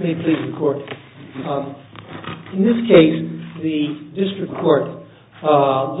In this case, the district court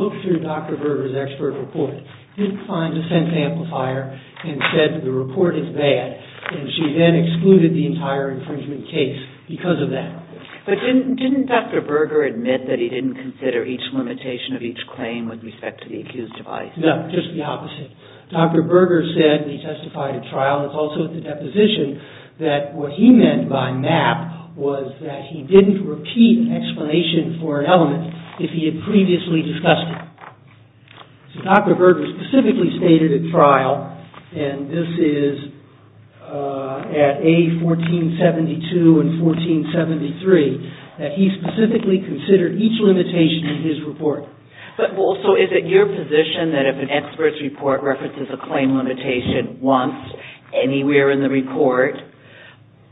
looked through Dr. Berger's expert report, didn't find a sense amplifier, and said the report is bad, and she then excluded the entire infringement case because of that. But didn't Dr. Berger admit that he didn't consider each limitation of each claim with respect to the accused device? No, just the opposite. Dr. Berger said, and he testified at trial, and it's also at the deposition, that what he meant by MAP was that he didn't repeat an explanation for an element if he had previously discussed it. So Dr. Berger specifically stated at trial, and this is at A1472 and 1473, that he specifically considered each limitation in his report. So is it your position that if an expert's report references a claim limitation once, anywhere in the report,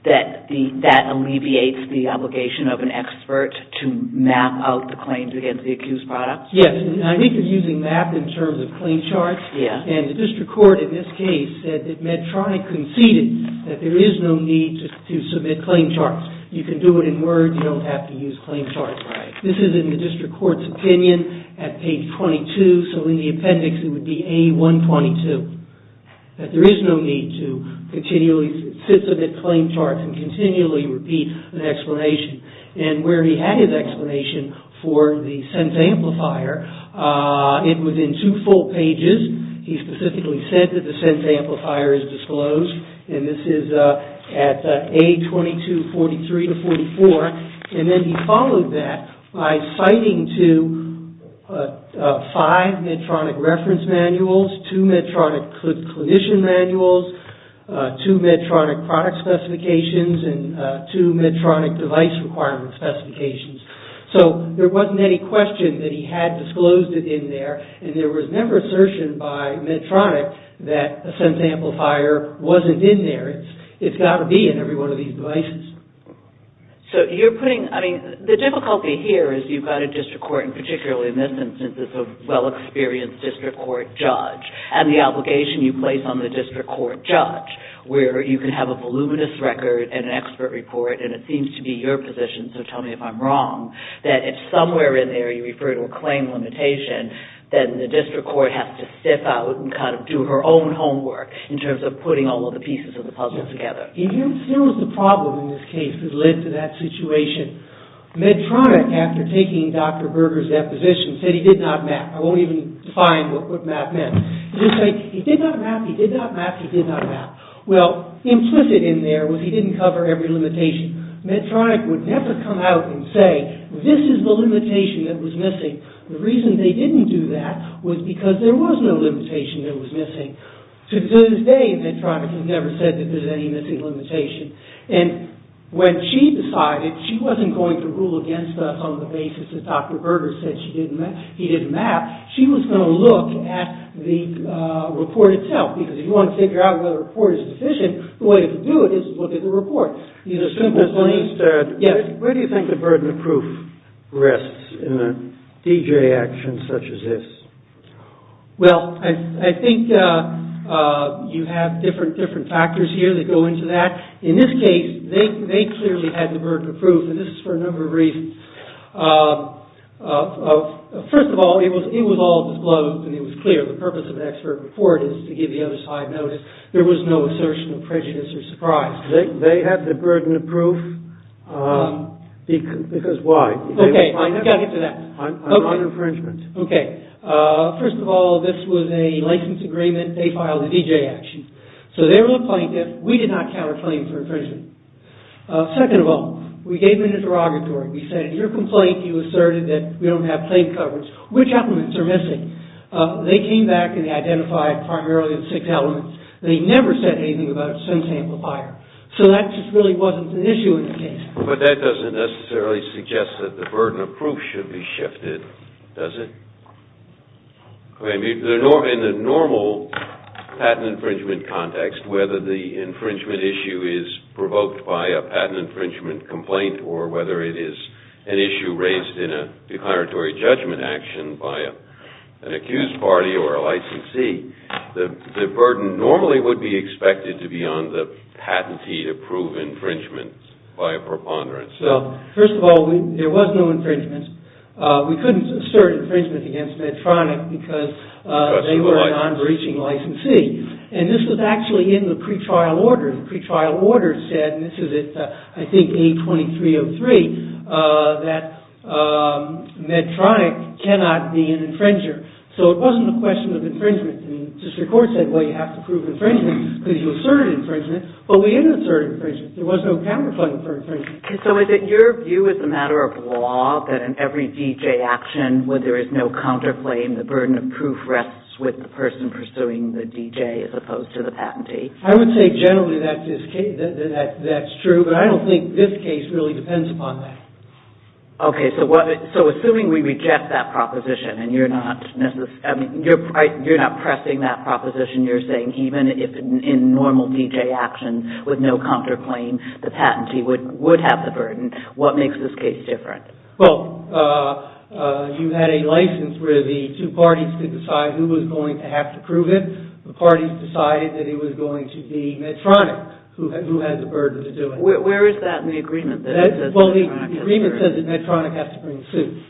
that that alleviates the obligation of an expert to map out the claims against the accused product? Yes, and I think they're using MAP in terms of claim charts, and the district court in this case said that MEDTRONIC conceded that there is no need to submit claim charts. You can do it in words, you don't have to use claim charts. This is in the district court's opinion at page 22, so in the appendix it would be A122, that there is no need to continually submit claim charts and continually repeat an explanation. And where he had his explanation for the sense amplifier, it was in two full pages. He specifically said that the sense amplifier is disclosed, and this is at A2243-44, and then he followed that by citing to five MEDTRONIC reference manuals, two MEDTRONIC clinician manuals, two MEDTRONIC product specifications, and two MEDTRONIC device requirement specifications. So, there wasn't any question that he had disclosed it in there, and there was never an assertion by MEDTRONIC that a sense amplifier wasn't in there. It's got to be in every one of these devices. So, you're putting, I mean, the difficulty here is you've got a district court, and particularly in this instance, it's a well-experienced district court judge, and the obligation you place on the district court judge, where you can have a voluminous record and an expert report, and it seems to be your position, so tell me if I'm wrong, that if somewhere in there you refer to a claim limitation, then the district court has to sift out and kind of do her own homework in terms of putting all of the pieces of the puzzle together. And here's the problem in this case that led to that situation. MEDTRONIC, after taking Dr. Berger's deposition, said he did not map. I won't even define what map meant. He just said, he did not map, he did not map, he did not map. Well, implicit in there was he didn't cover every limitation. MEDTRONIC would never come out and say, this is the limitation that was missing. The reason they didn't do that was because there was no limitation that was missing. To this day, MEDTRONIC has never said that there's any missing limitation. And when she decided she wasn't going to rule against us on the basis that Dr. Berger said he didn't map, she was going to look at the report itself, because if you want to figure out whether a report is deficient, the way to do it is to look at the report. Where do you think the burden of proof rests in a DJ action such as this? Well, I think you have different factors here that go into that. In this case, they clearly had the burden of proof, and this is for a number of reasons. First of all, it was all disclosed and it was clear. The purpose of an expert report is to give the other side notice. There was no assertion of prejudice or surprise. They had the burden of proof because why? Okay, I got into that. I'm on infringement. Okay. First of all, this was a license agreement. They filed a DJ action. So, they were the plaintiff. We did not counterclaim for infringement. Second of all, we gave them an interrogatory. We said, in your complaint, you asserted that we don't have claim coverage. Which elements are missing? They came back and identified primarily the six elements. They never said anything about a sentence amplifier. So, that just really wasn't an issue in the case. But that doesn't necessarily suggest that the burden of proof should be shifted, does it? In the normal patent infringement context, whether the infringement issue is provoked by a patent infringement complaint or whether it is an issue raised in a declaratory judgment action by an accused party or a licensee, the burden normally would be expected to be on the patentee to prove infringement by a preponderance. So, first of all, there was no infringement. We couldn't assert infringement against Medtronic because they were a non-breaching licensee. And this was actually in the pretrial order. The pretrial order said, and this is, I think, A2303, that Medtronic cannot be an infringer. So, it wasn't a question of infringement. The district court said, well, you have to prove infringement because you asserted infringement. But we didn't assert infringement. There was no counterclaim for infringement. So, is it your view as a matter of law that in every DJ action where there is no counterclaim, the burden of proof rests with the person pursuing the DJ as opposed to the patentee? I would say generally that's true. But I don't think this case really depends upon that. Okay. So, assuming we reject that proposition and you're not pressing that proposition, you're saying even in normal DJ action with no counterclaim, the patentee would have the burden, what makes this case different? Well, you had a license where the two parties could decide who was going to have to prove it. The parties decided that it was going to be Medtronic who had the burden to do it. Where is that in the agreement? Well, the agreement says that Medtronic has to bring suits.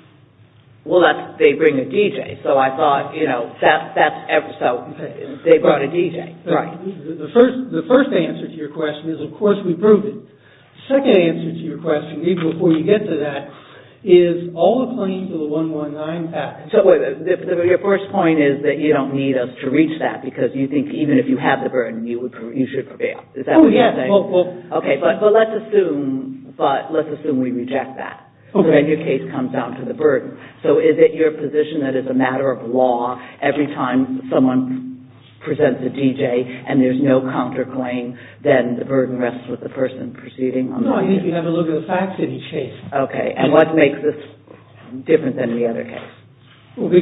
Well, they bring a DJ. So, I thought, you know, they brought a DJ. Right. The first answer to your question is, of course, we prove it. The second answer to your question, before you get to that, is all the claims of the 119 patent. So, your first point is that you don't need us to reach that because you think even if you have the burden, you should prevail. Oh, yes. Okay, but let's assume we reject that. Okay. Then your case comes down to the burden. So, is it your position that as a matter of law, every time someone presents a DJ and there's no counterclaim, then the burden rests with the person proceeding? No, I think you have to look at the facts of each case. Okay, and what makes this different than the other case? Well,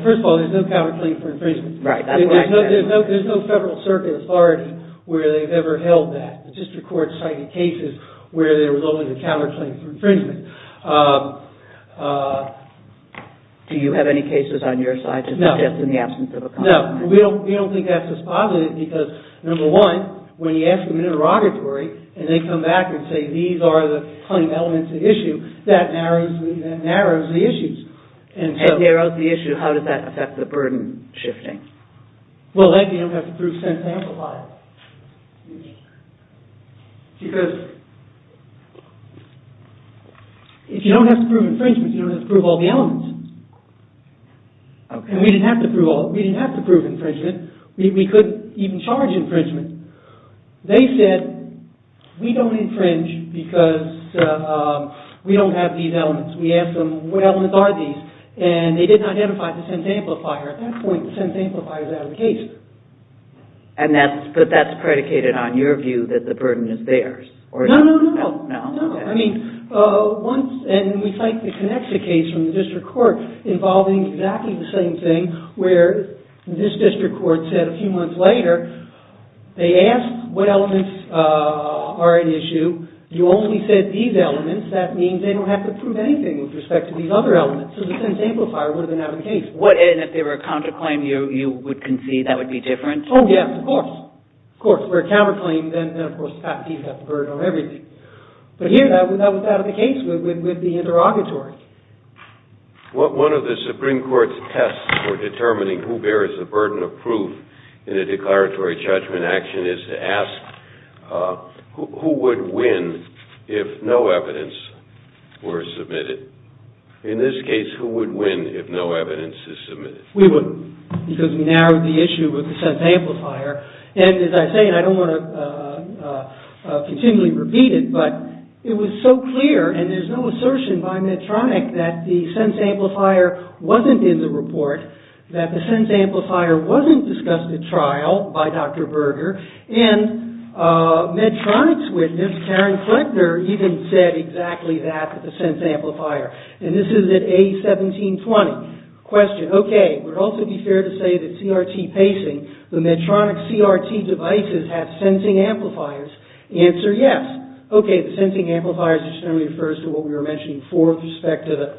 first of all, there's no counterclaim for infringement. Right, that's what I said. There's no federal circuit authority where they've ever held that. The district court cited cases where there was only a counterclaim for infringement. Do you have any cases on your side to suggest in the absence of a counterclaim? No, we don't think that's dispositive because, number one, when you ask them interrogatory and they come back and say, these are the claim elements of the issue, that narrows the issues. And narrows the issue, how does that affect the burden shifting? Well, that you don't have to prove since they amplify it. Because if you don't have to prove infringement, you don't have to prove all the elements. And we didn't have to prove infringement. We could even charge infringement. They said, we don't infringe because we don't have these elements. We asked them, what elements are these? And they did not identify the sense amplifier. At that point, the sense amplifier was out of the case. But that's predicated on your view that the burden is theirs. No, no, no. No, I mean, and we cite the connection case from the district court involving exactly the same thing where this district court said a few months later, they asked what elements are an issue. You only said these elements. That means they don't have to prove anything with respect to these other elements. So the sense amplifier would have been out of the case. And if they were a counterclaim, you would concede that would be different? Oh, yes, of course. Of course. But here, that was out of the case with the interrogatory. One of the Supreme Court's tests for determining who bears the burden of proof in a declaratory judgment action is to ask, who would win if no evidence were submitted? In this case, who would win if no evidence is submitted? We wouldn't. Because we narrowed the issue with the sense amplifier. And as I say, and I don't want to continually repeat it, but it was so clear, and there's no assertion by Medtronic that the sense amplifier wasn't in the report, that the sense amplifier wasn't discussed at trial by Dr. Berger. And Medtronic's witness, Karen Fleckner, even said exactly that with the sense amplifier. And this is at A1720. Question. Okay. Would it also be fair to say that CRT pacing, the Medtronic CRT devices have sensing amplifiers? Answer, yes. Okay, the sensing amplifiers just generally refers to what we were mentioning before with respect to the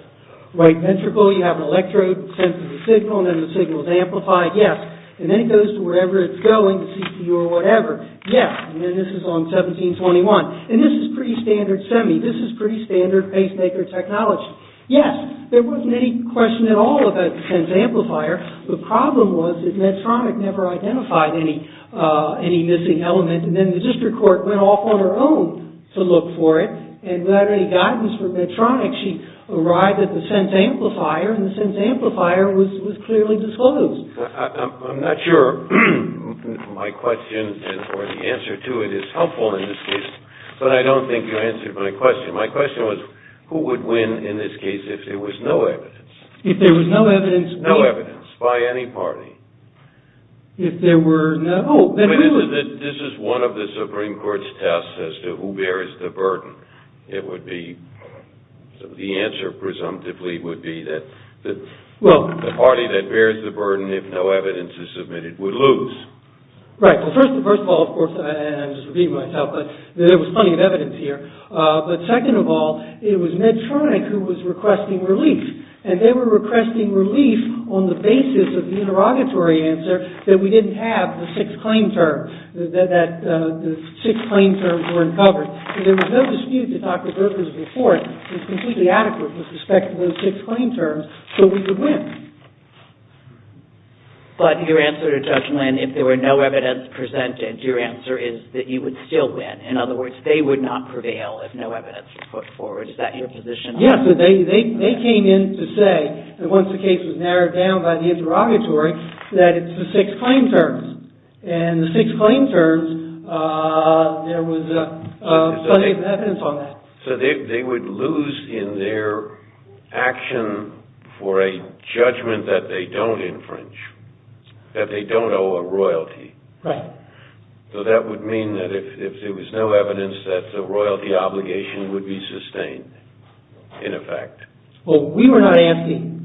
right ventricle. You have an electrode that senses a signal, and then the signal is amplified. Yes. And then it goes to wherever it's going, the CPU or whatever. Yes. And then this is on 1721. And this is pretty standard semi. This is pretty standard pacemaker technology. Yes. There wasn't any question at all about the sense amplifier. The problem was that Medtronic never identified any missing element. And then the district court went off on her own to look for it, and without any guidance from Medtronic, she arrived at the sense amplifier, and the sense amplifier was clearly disclosed. I'm not sure my question or the answer to it is helpful in this case, but I don't think you answered my question. My question was, who would win in this case if there was no evidence? If there was no evidence? No evidence by any party. If there were no – oh, then who would – This is one of the Supreme Court's tests as to who bears the burden. It would be – the answer, presumptively, would be that the party that bears the burden if no evidence is submitted would lose. Right. Well, first of all, of course, and I'm just repeating myself, but there was plenty of evidence here. But second of all, it was Medtronic who was requesting relief. And they were requesting relief on the basis of the interrogatory answer that we didn't have the six claim terms – that the six claim terms were uncovered. And there was no dispute that Dr. Berger's report was completely adequate with respect to those six claim terms, so we would win. But your answer to Judge Lynn, if there were no evidence presented, your answer is that you would still win. In other words, they would not prevail if no evidence was put forward. Is that your position? Yes. They came in to say that once the case was narrowed down by the interrogatory, that it's the six claim terms. And the six claim terms, there was plenty of evidence on that. So they would lose in their action for a judgment that they don't infringe, that they don't owe a royalty. Right. So that would mean that if there was no evidence, that the royalty obligation would be sustained, in effect. Well, we were not asking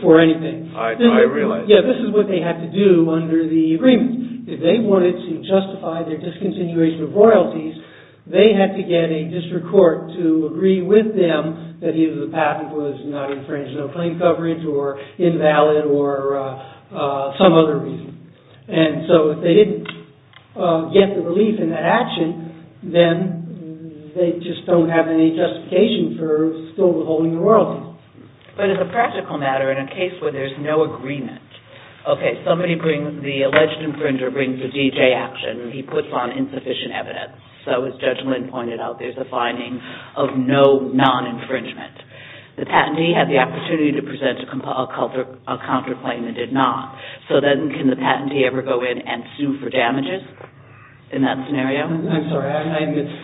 for anything. I realize that. Yeah, this is what they had to do under the agreement. If they wanted to justify their discontinuation of royalties, they had to get a district court to agree with them that either the patent was not infringed, no claim coverage, or invalid, or some other reason. And so if they didn't get the relief in that action, then they just don't have any justification for still withholding the royalty. But as a practical matter, in a case where there's no agreement, okay, somebody brings, the alleged infringer brings a DJ action. He puts on insufficient evidence. So as Judge Lynn pointed out, there's a finding of no non-infringement. The patentee had the opportunity to present a counterclaim and did not. So then can the patentee ever go in and sue for damages in that scenario? I'm sorry.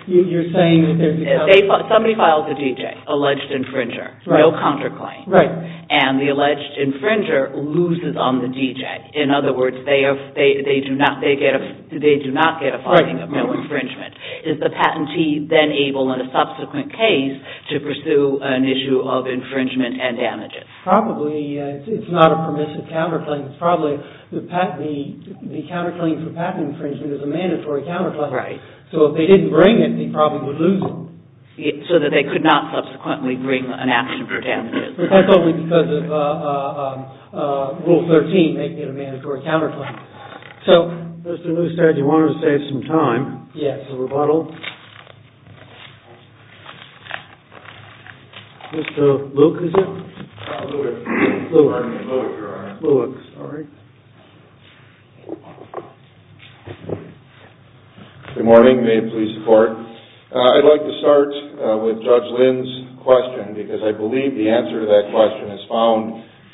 You're saying that there's a… Somebody files a DJ, alleged infringer, no counterclaim. Right. And the alleged infringer loses on the DJ. In other words, they do not get a finding of no infringement. Is the patentee then able, in a subsequent case, to pursue an issue of infringement and damages? Probably. It's not a permissive counterclaim. It's probably the counterclaim for patent infringement is a mandatory counterclaim. Right. So if they didn't bring it, they probably would lose it. So that they could not subsequently bring an action for damages. But that's only because of Rule 13 making it a mandatory counterclaim. So… Mr. Neustadt, you wanted to save some time. Yes. A rebuttal. Mr. Luke, is it? Luke. Luke. Luke, you're on. Luke, sorry. Good morning. May it please the Court. I'd like to start with Judge Lynn's question because I believe the answer to that question is found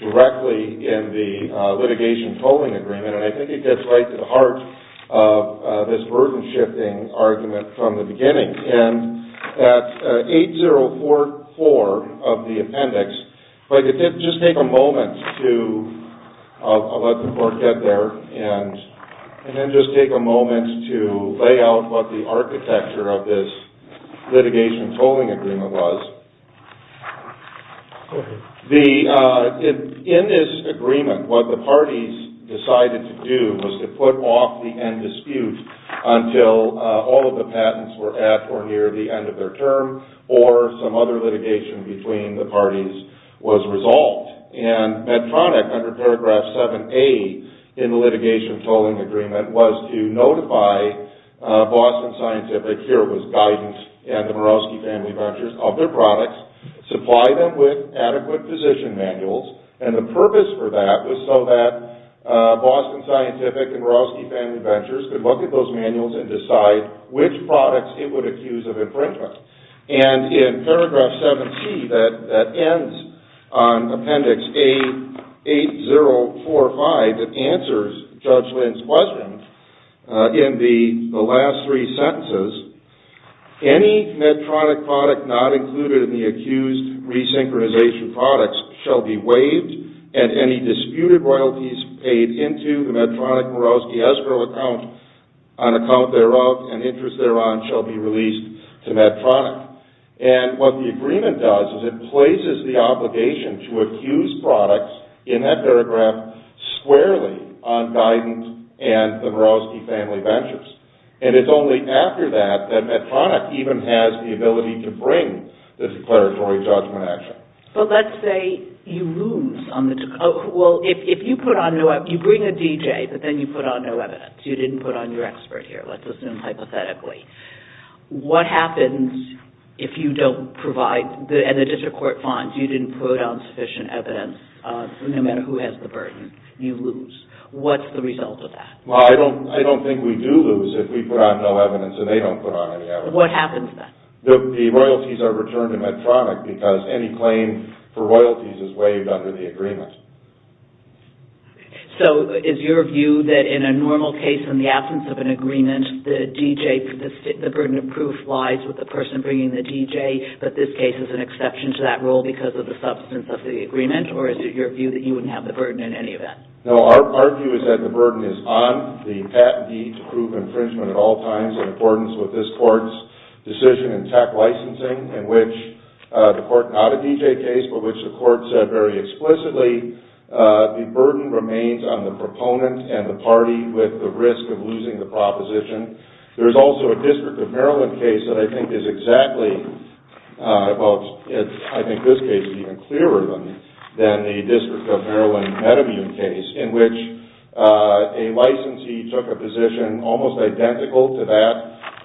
directly in the litigation polling agreement. And I think it gets right to the heart of this burden-shifting argument from the beginning. And that 8044 of the appendix… If I could just take a moment to… I'll let the Court get there. And then just take a moment to lay out what the architecture of this litigation polling agreement was. In this agreement, what the parties decided to do was to put off the end dispute until all of the patents were at or near the end of their term, or some other litigation between the parties was resolved. And Medtronic, under paragraph 7A in the litigation polling agreement, was to notify Boston Scientific, here it was Guidance, and the Mirowski Family Ventures of their products, supply them with adequate position manuals. And the purpose for that was so that Boston Scientific and Mirowski Family Ventures could look at those manuals and decide which products it would accuse of infringement. And in paragraph 7C that ends on appendix A8045 that answers Judge Lynn's question, in the last three sentences, any Medtronic product not included in the accused resynchronization products shall be waived, and any disputed royalties paid into the Medtronic-Mirowski escrow account, on account thereof and interest thereon, shall be released to Medtronic. And what the agreement does is it places the obligation to accuse products in that paragraph squarely on Guidance and the Mirowski Family Ventures. And it's only after that that Medtronic even has the ability to bring the declaratory judgment action. But let's say you lose on the, well, if you put on, you bring a DJ, but then you put on no evidence. You didn't put on your expert here, let's assume hypothetically. What happens if you don't provide, and the district court finds you didn't put on sufficient evidence, no matter who has the burden, you lose? What's the result of that? I don't think we do lose if we put on no evidence and they don't put on any evidence. What happens then? The royalties are returned to Medtronic because any claim for royalties is waived under the agreement. So is your view that in a normal case, in the absence of an agreement, the DJ, the burden of proof lies with the person bringing the DJ, but this case is an exception to that rule because of the substance of the agreement, or is it your view that you wouldn't have the burden in any event? No, our view is that the burden is on the patent deed to prove infringement at all times in accordance with this court's decision in tech licensing in which the court, not a DJ case, but which the court said very explicitly, the burden remains on the proponent and the party with the risk of losing the proposition. There's also a District of Maryland case that I think is exactly, well, I think this case is even clearer than the District of Maryland case in which a licensee took a position almost identical to that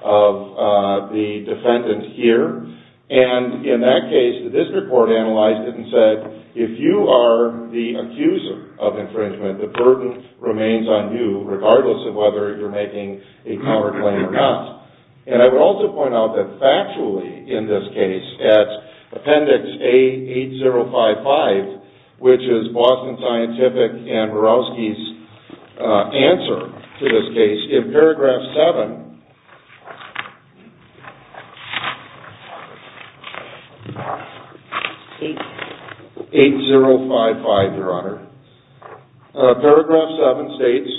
of the defendant here, and in that case, the district court analyzed it and said, if you are the accuser of infringement, the burden remains on you regardless of whether you're making a counterclaim or not. And I would also point out that factually in this case, at Appendix A8055, which is Boston Scientific and Murawski's answer to this case, in Paragraph 7, 8055, Your Honor, Paragraph 7 states,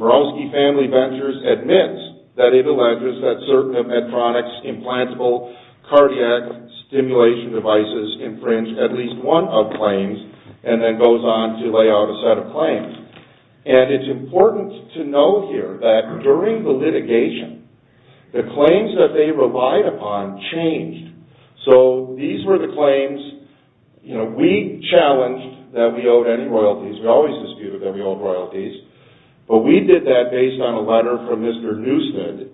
Murawski Family Ventures admits that it alleges that certain of Medtronic's implantable cardiac stimulation devices infringe at least one of claims, and then goes on to lay out a set of claims. And it's important to note here that during the litigation, the claims that they relied upon changed. So these were the claims, you know, we challenged that we owed any royalties. We always disputed that we owed royalties. But we did that based on a letter from Mr. Newstead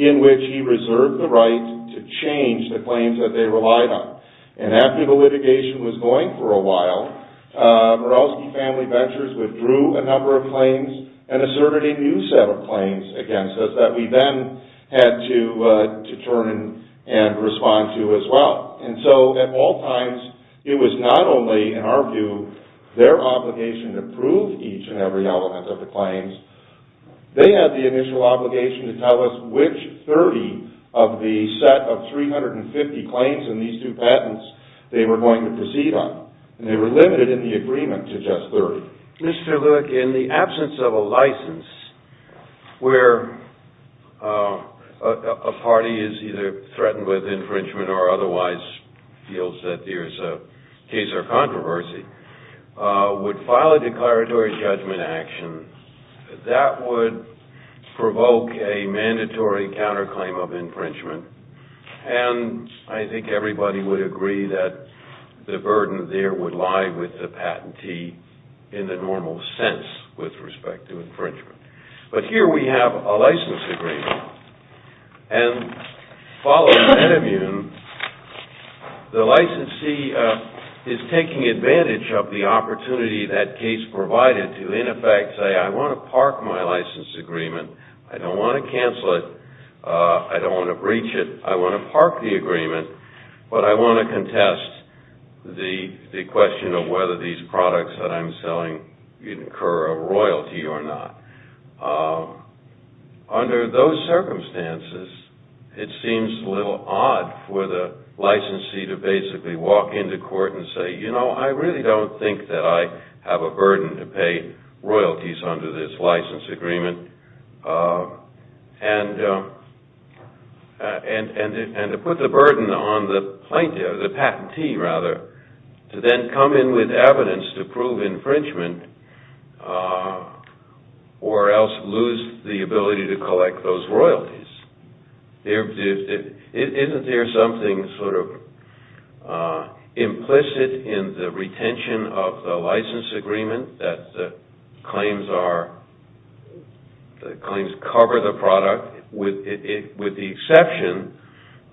in which he reserved the right to change the claims that they relied on. And after the litigation was going for a while, Murawski Family Ventures withdrew a number of claims and asserted a new set of claims against us that we then had to turn and respond to as well. And so at all times, it was not only, in our view, their obligation to prove each and every element of the claims. They had the initial obligation to tell us which 30 of the set of 350 claims in these two patents they were going to proceed on. And they were limited in the agreement to just 30. Mr. Lewick, in the absence of a license where a party is either threatened with infringement or otherwise feels that there's a case or controversy, would file a declaratory judgment action. That would provoke a mandatory counterclaim of infringement. And I think everybody would agree that the burden there would lie with the patentee in the normal sense with respect to infringement. But here we have a license agreement. And following Metamune, the licensee is taking advantage of the opportunity that case provided to in effect say, I want to park my license agreement. I don't want to cancel it. I don't want to breach it. I want to park the agreement. But I want to contest the question of whether these products that I'm selling incur a royalty or not. Under those circumstances, it seems a little odd for the licensee to basically walk into court and say, you know, I really don't think that I have a burden to pay royalties under this license agreement. And to put the burden on the plaintiff, the patentee rather, to then come in with evidence to prove infringement or else lose the ability to collect those royalties. Isn't there something sort of implicit in the retention of the license agreement that claims cover the product with the exception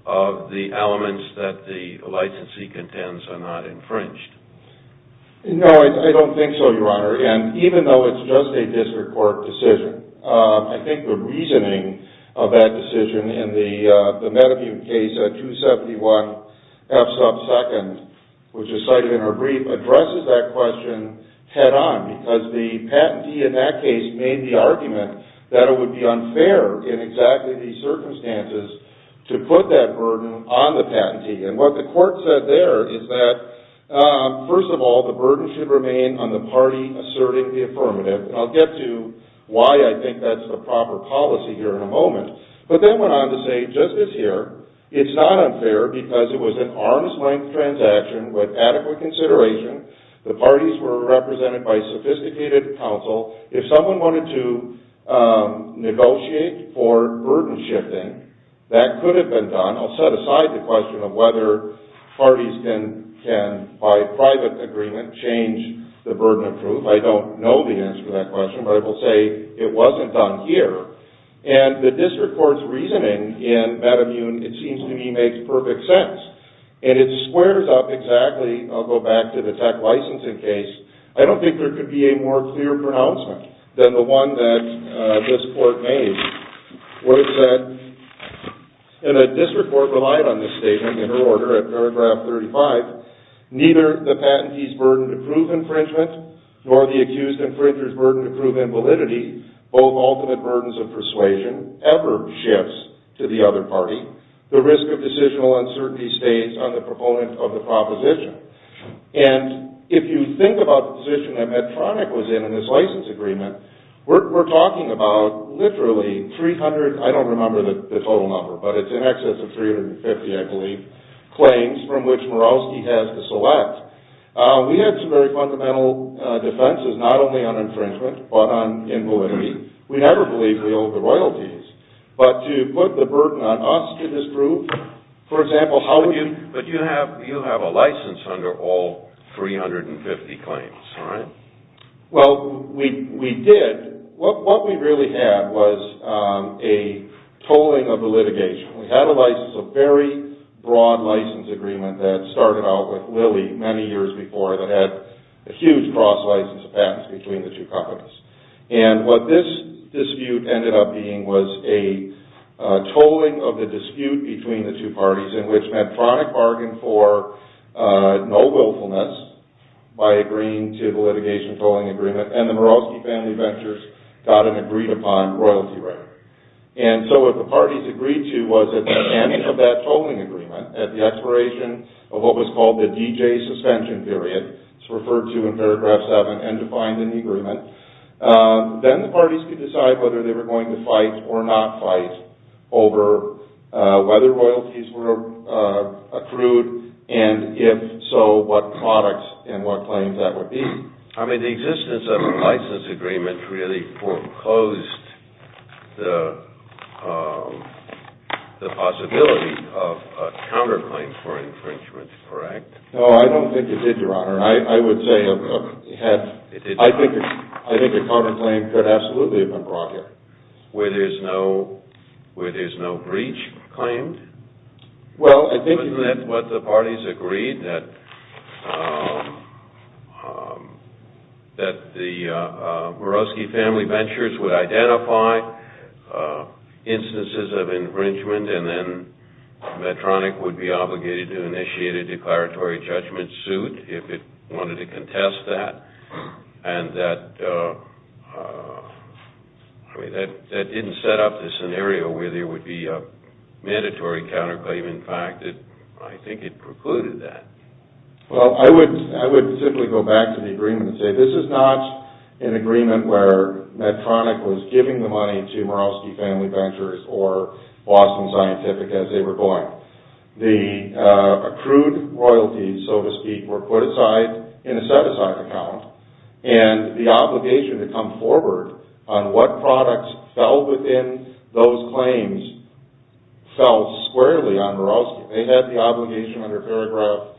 of the elements that the licensee contends are not infringed? No, I don't think so, Your Honor. And even though it's just a district court decision, I think the reasoning of that decision in the Metamune case at 271 F sub 2nd, which is cited in our brief, addresses that question head on. Because the patentee in that case made the argument that it would be unfair in exactly these circumstances to put that burden on the patentee. And what the court said there is that, first of all, the burden should remain on the party asserting the affirmative. And I'll get to why I think that's the proper policy here in a moment. But then went on to say, just as here, it's not unfair because it was an arm's-length transaction with adequate consideration. The parties were represented by sophisticated counsel. If someone wanted to negotiate for burden shifting, that could have been done. I'll set aside the question of whether parties can, by private agreement, change the burden of proof. I don't know the answer to that question, but I will say it wasn't done here. And the district court's reasoning in Metamune, it seems to me, makes perfect sense. And it squares up exactly, I'll go back to the tech licensing case, I don't think there could be a more clear pronouncement than the one that this court made, where it said, and the district court relied on this statement in her order at paragraph 35, neither the patentee's burden to prove infringement, nor the accused infringer's burden to prove invalidity, both ultimate burdens of persuasion, ever shifts to the other party. The risk of decisional uncertainty stays on the proponent of the proposition. And if you think about the position that Medtronic was in in this license agreement, we're talking about literally 300, I don't remember the total number, but it's in excess of 350, I believe, We had some very fundamental defenses, not only on infringement, but on invalidity. We never believed we owed the royalties, but to put the burden on us to disprove, for example, But you have a license under all 350 claims, right? Well, we did. What we really had was a tolling of the litigation. We had a license, a very broad license agreement that started out with Lilly many years before that had a huge cross-license of patents between the two companies. And what this dispute ended up being was a tolling of the dispute between the two parties, in which Medtronic bargained for no willfulness by agreeing to the litigation tolling agreement, and the Mirowski Family Ventures got an agreed-upon royalty right. And so what the parties agreed to was that at the beginning of that tolling agreement, at the expiration of what was called the DJ suspension period, it's referred to in paragraph 7, and defined in the agreement, then the parties could decide whether they were going to fight or not fight over whether royalties were accrued, and if so, what products and what claims that would be. I mean, the existence of a license agreement really foreclosed the possibility of a counterclaim for infringement, correct? No, I don't think it did, Your Honor. I would say it did. I think a counterclaim could absolutely have been brought here where there's no breach claimed. Well, isn't that what the parties agreed, that the Mirowski Family Ventures would identify instances of infringement and then Medtronic would be obligated to initiate a declaratory judgment suit if it wanted to contest that, and that didn't set up the scenario where there would be a mandatory counterclaim. In fact, I think it precluded that. Well, I would simply go back to the agreement and say this is not an agreement where Medtronic was giving the money to Mirowski Family Ventures or Boston Scientific as they were going. The accrued royalties, so to speak, were put aside in a set-aside account, and the obligation to come forward on what products fell within those claims fell squarely on Mirowski. They had the obligation under paragraph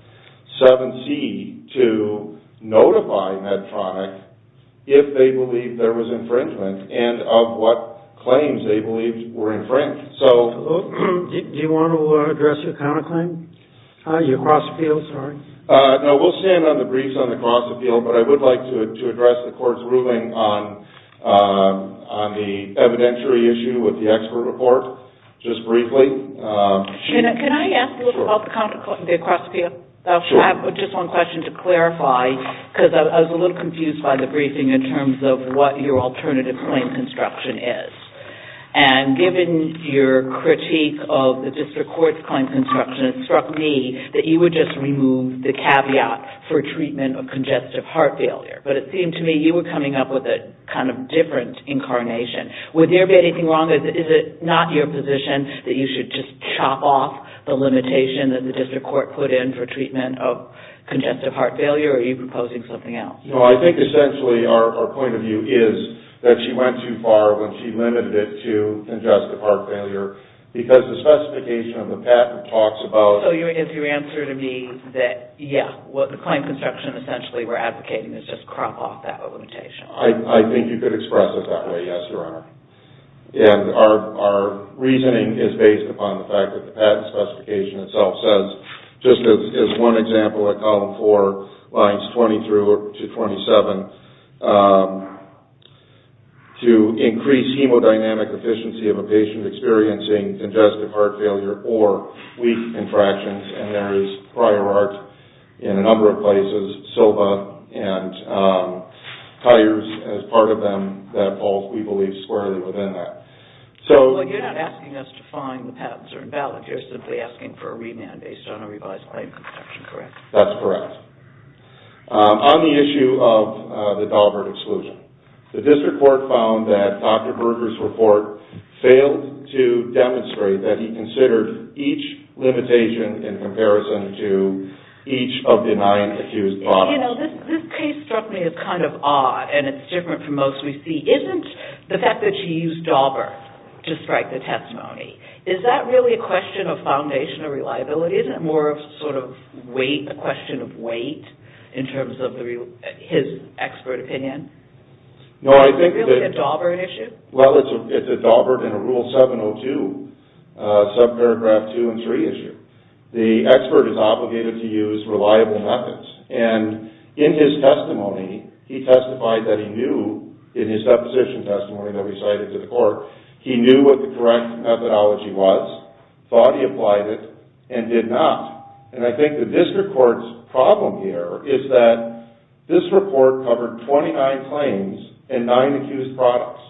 7c to notify Medtronic if they believed there was infringement and of what claims they believed were infringed. Do you want to address your cross-appeal? No, we'll stand on the briefs on the cross-appeal, but I would like to address the Court's ruling on the evidentiary issue with the expert report just briefly. Can I ask a little about the cross-appeal? Sure. I have just one question to clarify because I was a little confused by the briefing in terms of what your alternative claim construction is. And given your critique of the District Court's claim construction, it struck me that you would just remove the caveat for treatment of congestive heart failure. But it seemed to me you were coming up with a kind of different incarnation. Would there be anything wrong? Is it not your position that you should just chop off the limitation that the District Court put in for treatment of congestive heart failure, or are you proposing something else? No, I think essentially our point of view is that she went too far when she limited it to congestive heart failure because the specification of the patent talks about... So is your answer to me that, yes, the claim construction essentially we're advocating is just crop off that limitation? I think you could express it that way, yes, Your Honor. And our reasoning is based upon the fact that the patent specification itself says, just as one example at column four, lines 20 through to 27, to increase hemodynamic efficiency of a patient experiencing congestive heart failure or weak contractions, and there is prior art in a number of places, SILVA, and tires as part of them, that falls, we believe, squarely within that. Well, you're not asking us to find the patents are invalid. You're simply asking for a remand based on a revised claim construction, correct? That's correct. On the issue of the Daubert exclusion, the District Court found that Dr. Berger's report failed to demonstrate that he considered each limitation in comparison to each of the nine accused bodies. Well, you know, this case struck me as kind of odd, and it's different from most we see. Isn't the fact that you used Daubert to strike the testimony, is that really a question of foundation or reliability? Isn't it more of sort of weight, a question of weight, in terms of his expert opinion? No, I think that... Is it really a Daubert issue? Well, it's a Daubert and a Rule 702, subparagraph two and three issue. The expert is obligated to use reliable methods. And in his testimony, he testified that he knew, in his deposition testimony that we cited to the court, he knew what the correct methodology was, thought he applied it, and did not. And I think the District Court's problem here is that this report covered 29 claims and nine accused products.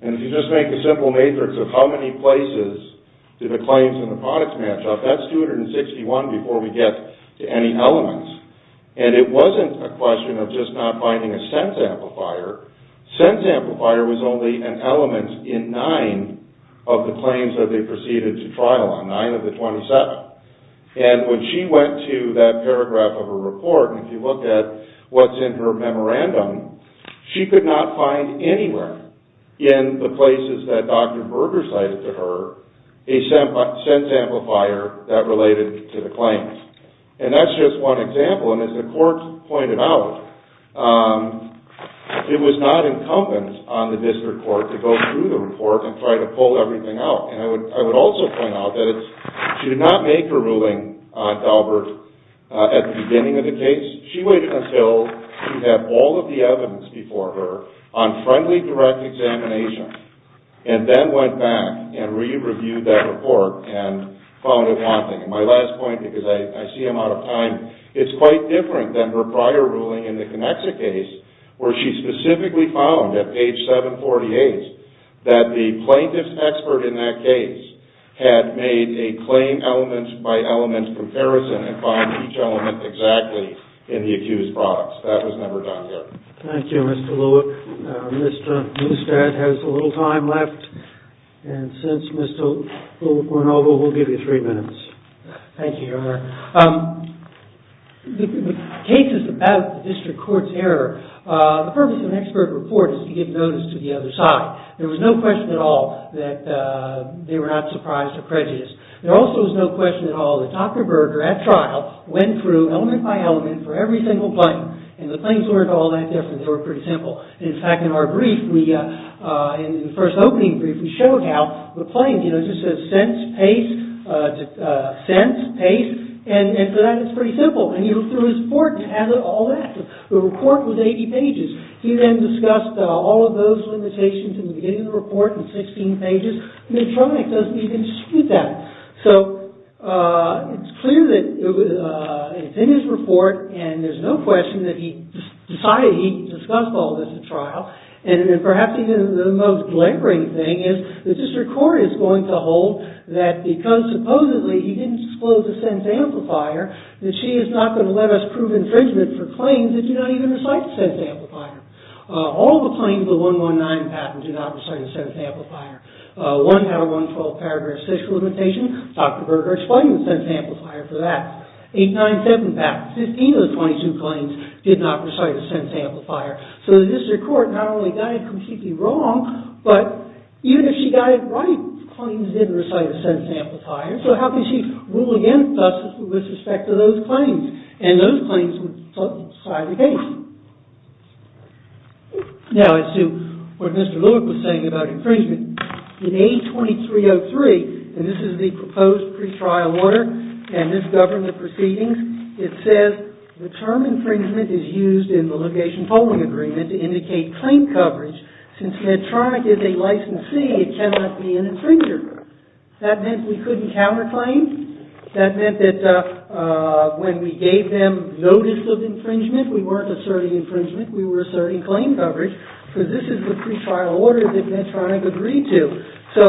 And if you just make a simple matrix of how many places did the claims and the products match up, that's 261 before we get to any elements. And it wasn't a question of just not finding a sense amplifier. Sense amplifier was only an element in nine of the claims that they proceeded to trial on, nine of the 27. And when she went to that paragraph of her report, and if you look at what's in her memorandum, she could not find anywhere in the places that Dr. Berger cited to her a sense amplifier that related to the claims. And that's just one example. And as the court pointed out, it was not incumbent on the District Court to go through the report and try to pull everything out. And I would also point out that she did not make her ruling on Daubert at the beginning of the case. She waited until she had all of the evidence before her on friendly direct examination, and then went back and re-reviewed that report and found it haunting. And my last point, because I see I'm out of time, it's quite different than her prior ruling in the Konexa case, where she specifically found at page 748 that the plaintiff's expert in that case had made a claim element by element comparison and found each element exactly in the accused products. That was never done here. Thank you, Mr. Lewick. Mr. Neustadt has a little time left. And since Mr. Lewick went over, we'll give you three minutes. Thank you, Your Honor. The cases about the District Court's error, the purpose of an expert report is to give notice to the other side. There was no question at all that they were not surprised or prejudiced. There also was no question at all that Dr. Berger, at trial, went through element by element for every single claim, and the claims weren't all that different. They were pretty simple. In fact, in our brief, in the first opening brief, we showed how the claim, you know, just says sense, pace, sense, pace, and for that it's pretty simple. And he looked through his report and had all that. The report was 80 pages. He then discussed all of those limitations in the beginning of the report in 16 pages. Medtronic doesn't even dispute that. So it's clear that it's in his report and there's no question that he decided he discussed all of this at trial. And perhaps even the most glaring thing is the District Court is going to hold that because supposedly he didn't disclose the sense amplifier, that she is not going to let us prove infringement for claims that do not even recite the sense amplifier. All the claims of the 119 patent do not recite a sense amplifier. 1 out of 112 paragraph social limitation, Dr. Berger explained the sense amplifier for that. 897 patent, 15 of the 22 claims did not recite a sense amplifier. So the District Court not only got it completely wrong, but even if she got it right, claims did recite a sense amplifier. So how could she rule against us with respect to those claims? Now as to what Mr. Lewick was saying about infringement, in A2303, and this is the proposed pre-trial order and this government proceedings, it says the term infringement is used in the litigation polling agreement to indicate claim coverage. Since Medtronic is a licensee, it cannot be an infringer. That meant we couldn't counterclaim. That meant that when we gave them notice of infringement, we weren't asserting infringement. We were asserting claim coverage because this is the pre-trial order that Medtronic agreed to. So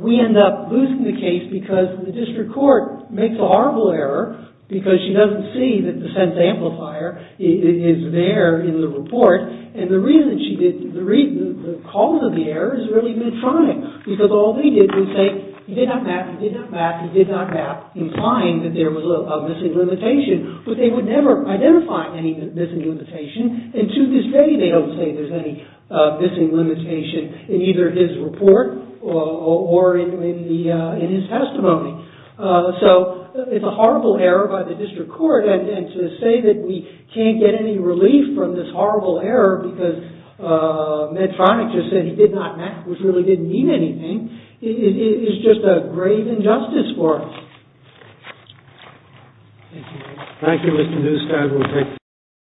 we end up losing the case because the District Court makes a horrible error because she doesn't see that the sense amplifier is there in the report. And the cause of the error is really Medtronic because all they did was say, you did not map, you did not map, you did not map, implying that there was a missing limitation. But they would never identify any missing limitation, and to this day they don't say there's any missing limitation in either his report or in his testimony. So it's a horrible error by the District Court, and to say that we can't get any relief from this horrible error because Medtronic just said he did not map, which really didn't mean anything, is just a grave injustice for us.